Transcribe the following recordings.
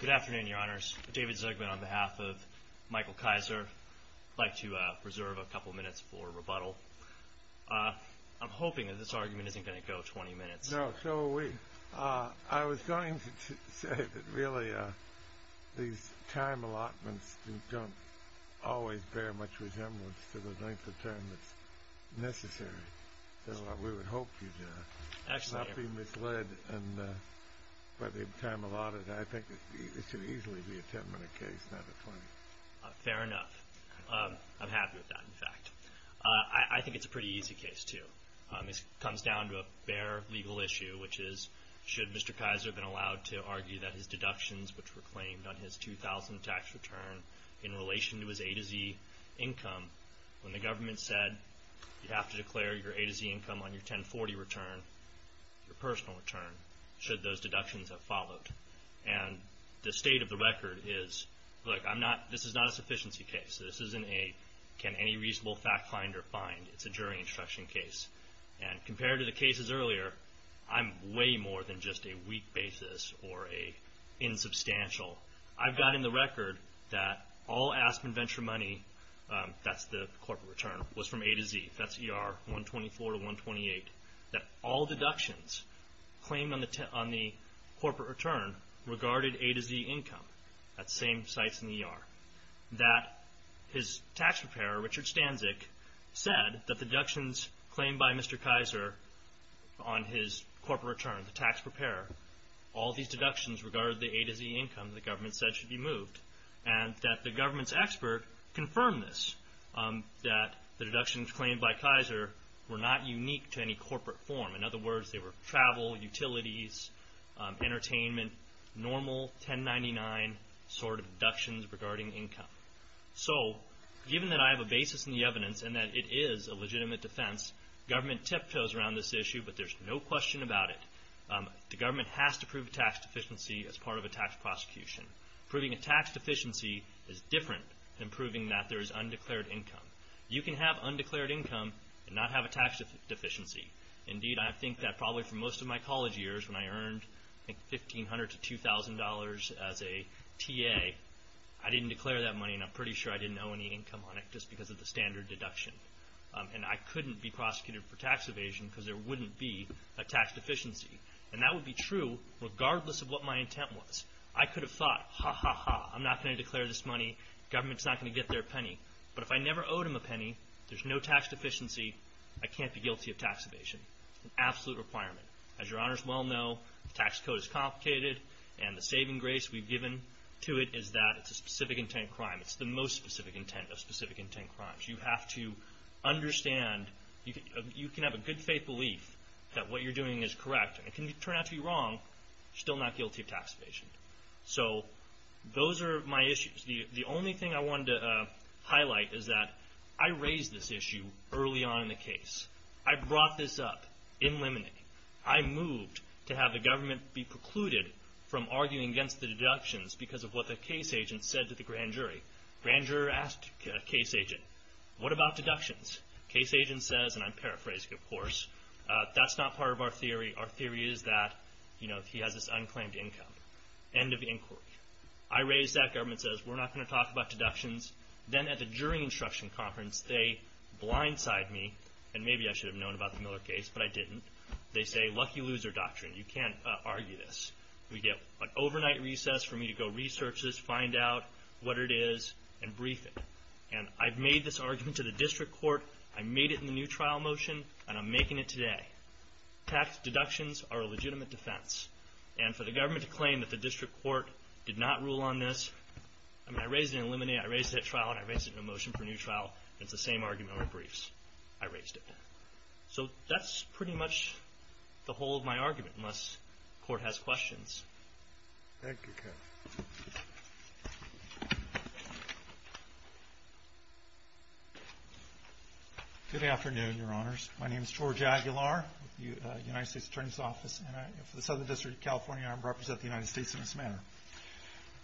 Good afternoon, your honors. David Zegman on behalf of Michael Kayser. I'd like to reserve a couple of minutes for rebuttal. I'm hoping that this argument isn't going to go 20 minutes. No, so we... I was going to say that really these time allotments don't always bear much resemblance to the length of time that's necessary. So we would hope you'd not be misled in the by the time allotted. I think it should easily be a 10 minute case, not a 20. Fair enough. I'm happy with that, in fact. I think it's a pretty easy case, too. It comes down to a bare legal issue, which is, should Mr. Kayser have been allowed to argue that his deductions, which were claimed on his 2000 tax return in relation to his A to Z income, when the government said you have to declare your A to Z income on your 1040 return, your personal return, should those deductions have followed. And the state of the record is, look, I'm not... this is not a sufficiency case. This isn't a can any reasonable fact find or find. It's a jury instruction case. And compared to the cases earlier, I'm way more than just a weak basis or a insubstantial. I've in the record that all Aspen Venture money, that's the corporate return, was from A to Z. That's ER 124 to 128. That all deductions claimed on the corporate return regarded A to Z income at same sites in the ER. That his tax preparer, Richard Stanzik, said that the deductions claimed by Mr. Kayser on his corporate return, the tax preparer, all these deductions regarded the A to Z income, the government said should be moved. And that the government's expert confirmed this, that the deductions claimed by Kayser were not unique to any corporate form. In other words, they were travel, utilities, entertainment, normal 1099 sort of deductions regarding income. So given that I have a basis in the evidence and that it is a legitimate defense, government tiptoes around this issue, but there's no question about it. The government has to prove a tax deficiency as part of a tax prosecution. Proving a tax deficiency is different than proving that there is undeclared income. You can have undeclared income and not have a tax deficiency. Indeed, I think that probably for most of my college years when I earned $1,500 to $2,000 as a TA, I didn't declare that money and I'm pretty sure I didn't owe any income on it just because of the standard deduction. And I couldn't be prosecuted for tax evasion because there wouldn't be a tax I could have thought, ha, ha, ha. I'm not going to declare this money. Government's not going to get their penny. But if I never owed him a penny, there's no tax deficiency. I can't be guilty of tax evasion. Absolute requirement. As your honors well know, the tax code is complicated and the saving grace we've given to it is that it's a specific intent crime. It's the most specific intent of specific intent crimes. You have to understand, you can have a good faith belief that what you're doing is correct. It can turn out to be wrong, still not guilty of tax evasion. So those are my issues. The only thing I wanted to highlight is that I raised this issue early on in the case. I brought this up in limine. I moved to have the government be precluded from arguing against the deductions because of what the case agent said to the grand jury. Grand juror asked case agent, what about deductions? Case agent says, and I'm paraphrasing, of course. That's not part of our theory. Our theory is that, you know, he has this unclaimed income. End of inquiry. I raised that. Government says, we're not going to talk about deductions. Then at the jury instruction conference, they blindside me. And maybe I should have known about the Miller case, but I didn't. They say, lucky loser doctrine. You can't argue this. We get an overnight recess for me to go research this, find out what it is and brief it. And I've made this argument to the district court. I made it in the new trial motion and I'm making it today. Tax deductions are a legitimate defense. And for the government to claim that the district court did not rule on this, I mean, I raised it in limine. I raised it at trial and I raised it in a motion for new trial. It's the same argument over briefs. I raised it. So that's pretty much the whole of my argument, unless court has questions. Thank you. Good afternoon, your honors. My name is George Aguilar with the United States Attorney's Office and for the Southern District of California, I represent the United States in this manner.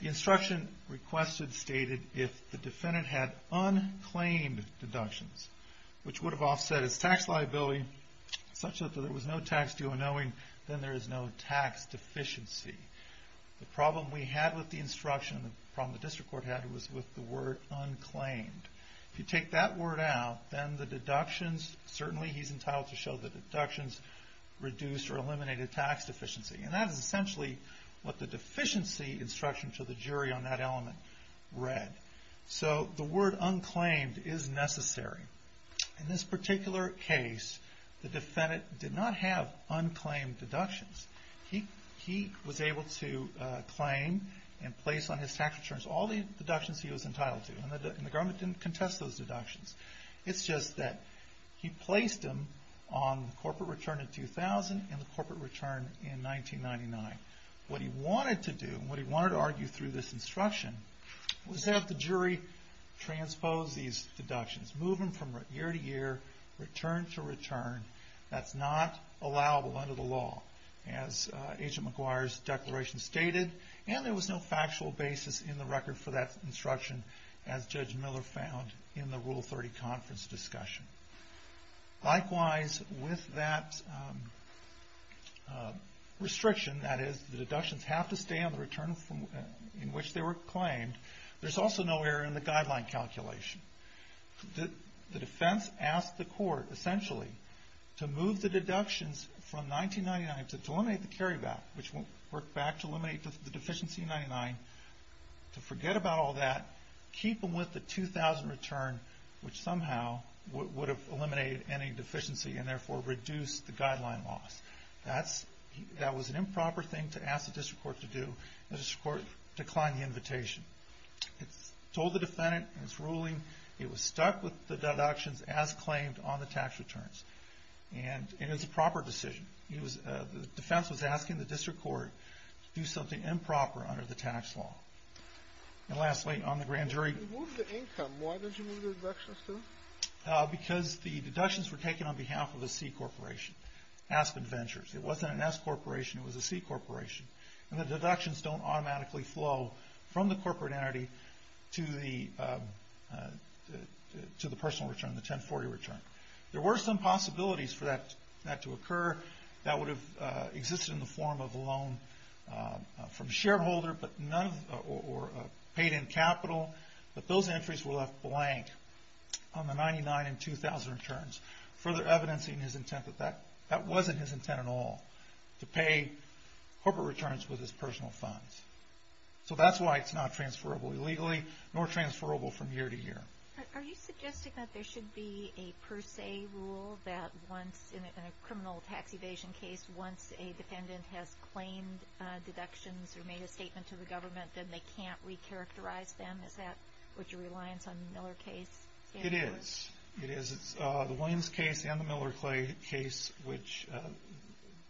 The instruction requested stated if the defendant had unclaimed deductions, which would have offset his tax liability such that there was no tax due unknowing, then there is no tax deficiency. The problem we had with the instruction, the problem the district court had was with the word unclaimed. If you take that word out, then the deductions, certainly he's entitled to show the deductions reduced or eliminated tax deficiency. And that is essentially what the deficiency instruction to the jury on that element read. So the word unclaimed is necessary. In this particular case, the defendant did not have unclaimed deductions. He was able to claim and place on his tax returns all the deductions he was entitled to. And the government didn't contest those deductions. It's just that he placed them on the corporate return in 2000 and the corporate return in 1999. What he wanted to do and what he wanted to argue through this instruction was have the jury transpose these deductions, move them from year to year, return to return. That's not allowable under the law as Agent McGuire's declaration stated. And there was no factual basis in the record for that instruction as Judge Miller found in the Rule 30 conference discussion. Likewise, with that restriction, that is the deductions have to stay on the return in which they were claimed, there's also no error in the guideline calculation. The defense asked the court, essentially, to move the deductions from 1999 to eliminate the carryback, which worked back to eliminate the deficiency in 99, to forget about all that, keep them with the 2000 return, which somehow would have eliminated any deficiency and therefore reduced the guideline loss. That was an improper thing to ask the district court to do. The district court declined the invitation. It told the defendant in its ruling it was stuck with the deductions as claimed on the tax returns. And it was a proper decision. The defense was asking the district court to do something improper under the tax law. And lastly, on the grand jury... You moved the income. Why did you move the deductions to? Because the deductions were taken on behalf of a C corporation, Aspen Ventures. It wasn't an S corporation, it was a C corporation. And the deductions don't automatically flow from the corporate entity to the personal return, the 1040 return. There were some possibilities for that to occur that would have existed in the form of a loan from a shareholder or paid in capital, but those entries were left blank on the 99 and 2000 returns, further evidencing his intent that that wasn't his intent at all, to pay corporate returns with his personal funds. So that's why it's not transferable illegally, nor transferable from year to year. Are you suggesting that there should be a per se rule that once, in a criminal tax evasion case, once a defendant has claimed deductions or made a deductions on the Miller case? It is. It is. It's the Williams case and the Miller case, which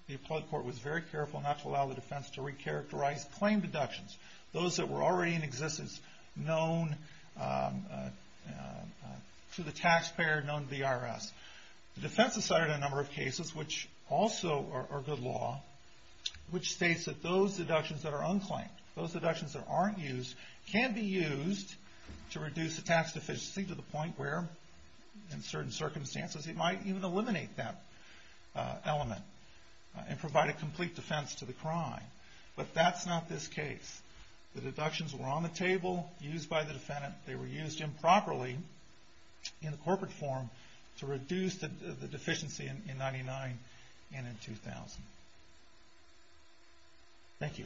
the appellate court was very careful not to allow the defense to recharacterize claimed deductions, those that were already in existence, known to the taxpayer, known to the IRS. The defense decided on a number of cases, which also are good law, which states that those deductions that are unclaimed, those deductions that aren't used, can be used to reduce the tax deficiency to the point where, in certain circumstances, it might even eliminate that element and provide a complete defense to the crime. But that's not this case. The deductions were on the table, used by the defendant, they were used improperly in the corporate form to reduce the deficiency in 99 and in 2000. Thank you.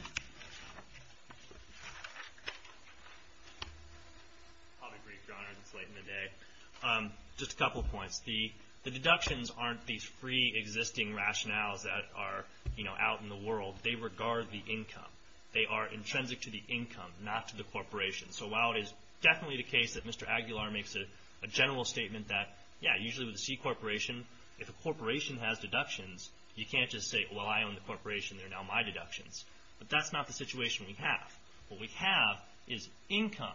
I'll be brief, Your Honor, it's late in the day. Just a couple of points. The deductions aren't these free existing rationales that are, you know, out in the world. They regard the income. They are intrinsic to the income, not to the corporation. So while it is definitely the case that Mr. Aguilar makes a general statement that, yeah, usually with a C corporation, if a corporation has deductions, you can't just say, well, I own the corporation, they're now my deductions. But that's not the situation we have. What we have is income.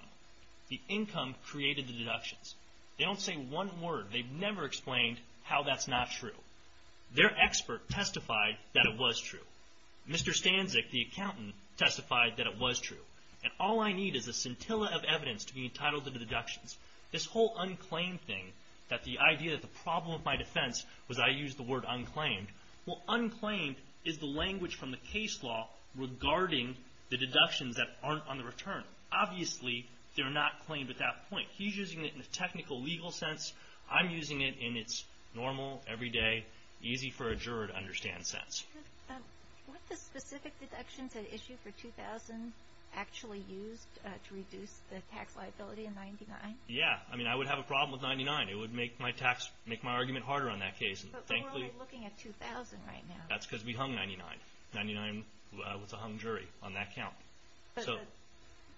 The income created the deductions. They don't say one word. They've never explained how that's not true. Their expert testified that it was true. Mr. Stanzik, the accountant, testified that it was true. And all I need is a scintilla of evidence to be entitled to the deductions. This whole unclaimed thing, that the idea that the problem of my defense was I used the word unclaimed. Well, unclaimed is the language from the case law regarding the deductions that aren't on the return. Obviously, they're not claimed at that point. He's using it in a technical legal sense. I'm using it in its normal, everyday, easy for a juror to understand sense. What the specific deductions had issued for 2000 actually used to reduce the tax liability in 99? Yeah. I mean, I would have a problem with 99. It would make my tax, make my argument harder on that case. Thankfully looking at 2000 right now, that's because we hung 99. 99 was a hung jury on that count.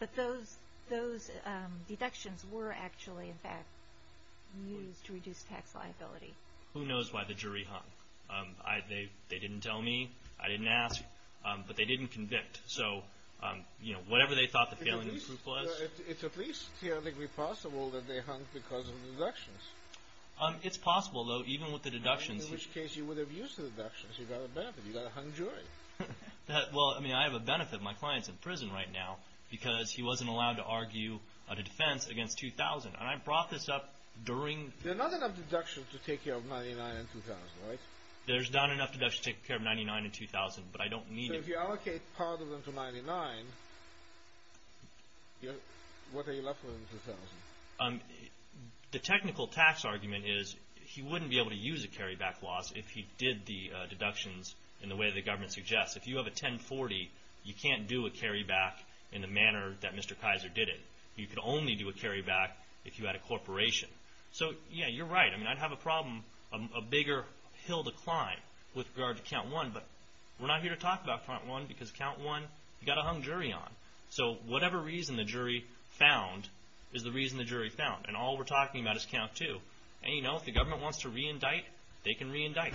But those, those deductions were actually, in fact, used to reduce tax liability. Who knows why the jury hung? They didn't tell me. I didn't ask. But they didn't convict. So, you know, whatever they thought the failing proof was. It's at least theoretically possible that they hung because of the deductions. It's possible, though, even with the deductions. In which case you would have used the deductions. You got a benefit. You got a hung jury. Well, I mean, I have a benefit. My client's in prison right now because he wasn't allowed to argue a defense against 2000. And I brought this up during. There are not enough deductions to take care of 99 and 2000, right? There's not enough deductions to take care of 99 and 2000, but I don't need it. So if you allocate part of them to 99, what are you left with in 2000? The technical tax argument is he wouldn't be able to use a carryback loss if he did the deductions in the way the government suggests. If you have a 1040, you can't do a carryback in the manner that Mr. Kaiser did it. You could only do a carryback if you had a corporation. So, yeah, you're right. I mean, I'd have a problem, a bigger hill to climb with regard to count one. But we're not here to talk about front one because count one, you got a hung jury on. So whatever reason the jury found is the reason the jury found. And all we're talking about is count two. And, you know, if the government wants to reindict, they can reindict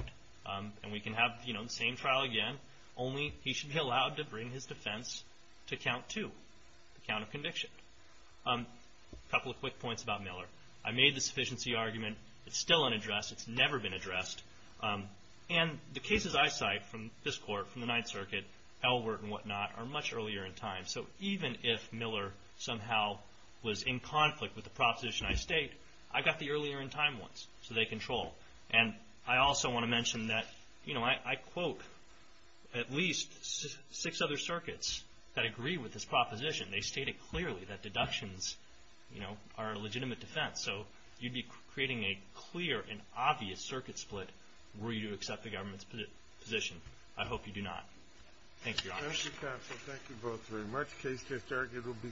and we can have, you know, the same trial again. Only he should be allowed to bring his defense to count two, the count of conviction. A couple of quick points about Miller. I made the sufficiency argument. It's still unaddressed. It's never been addressed. And the cases I cite from this court, from the Ninth Circuit, Elwert and whatnot, are much earlier in time. So even if Miller somehow was in conflict with the proposition I state, I got the earlier in time ones. So they control. And I also want to mention that, you know, I quote at least six other circuits that agree with this proposition. They state it clearly that deductions, you know, are a legitimate defense. So you'd be creating a clear and obvious circuit split were you to accept the government's position. I hope you do not. Thank you, Your Honor. Thank you, counsel. Thank you both very much. Case just argued will be submitted.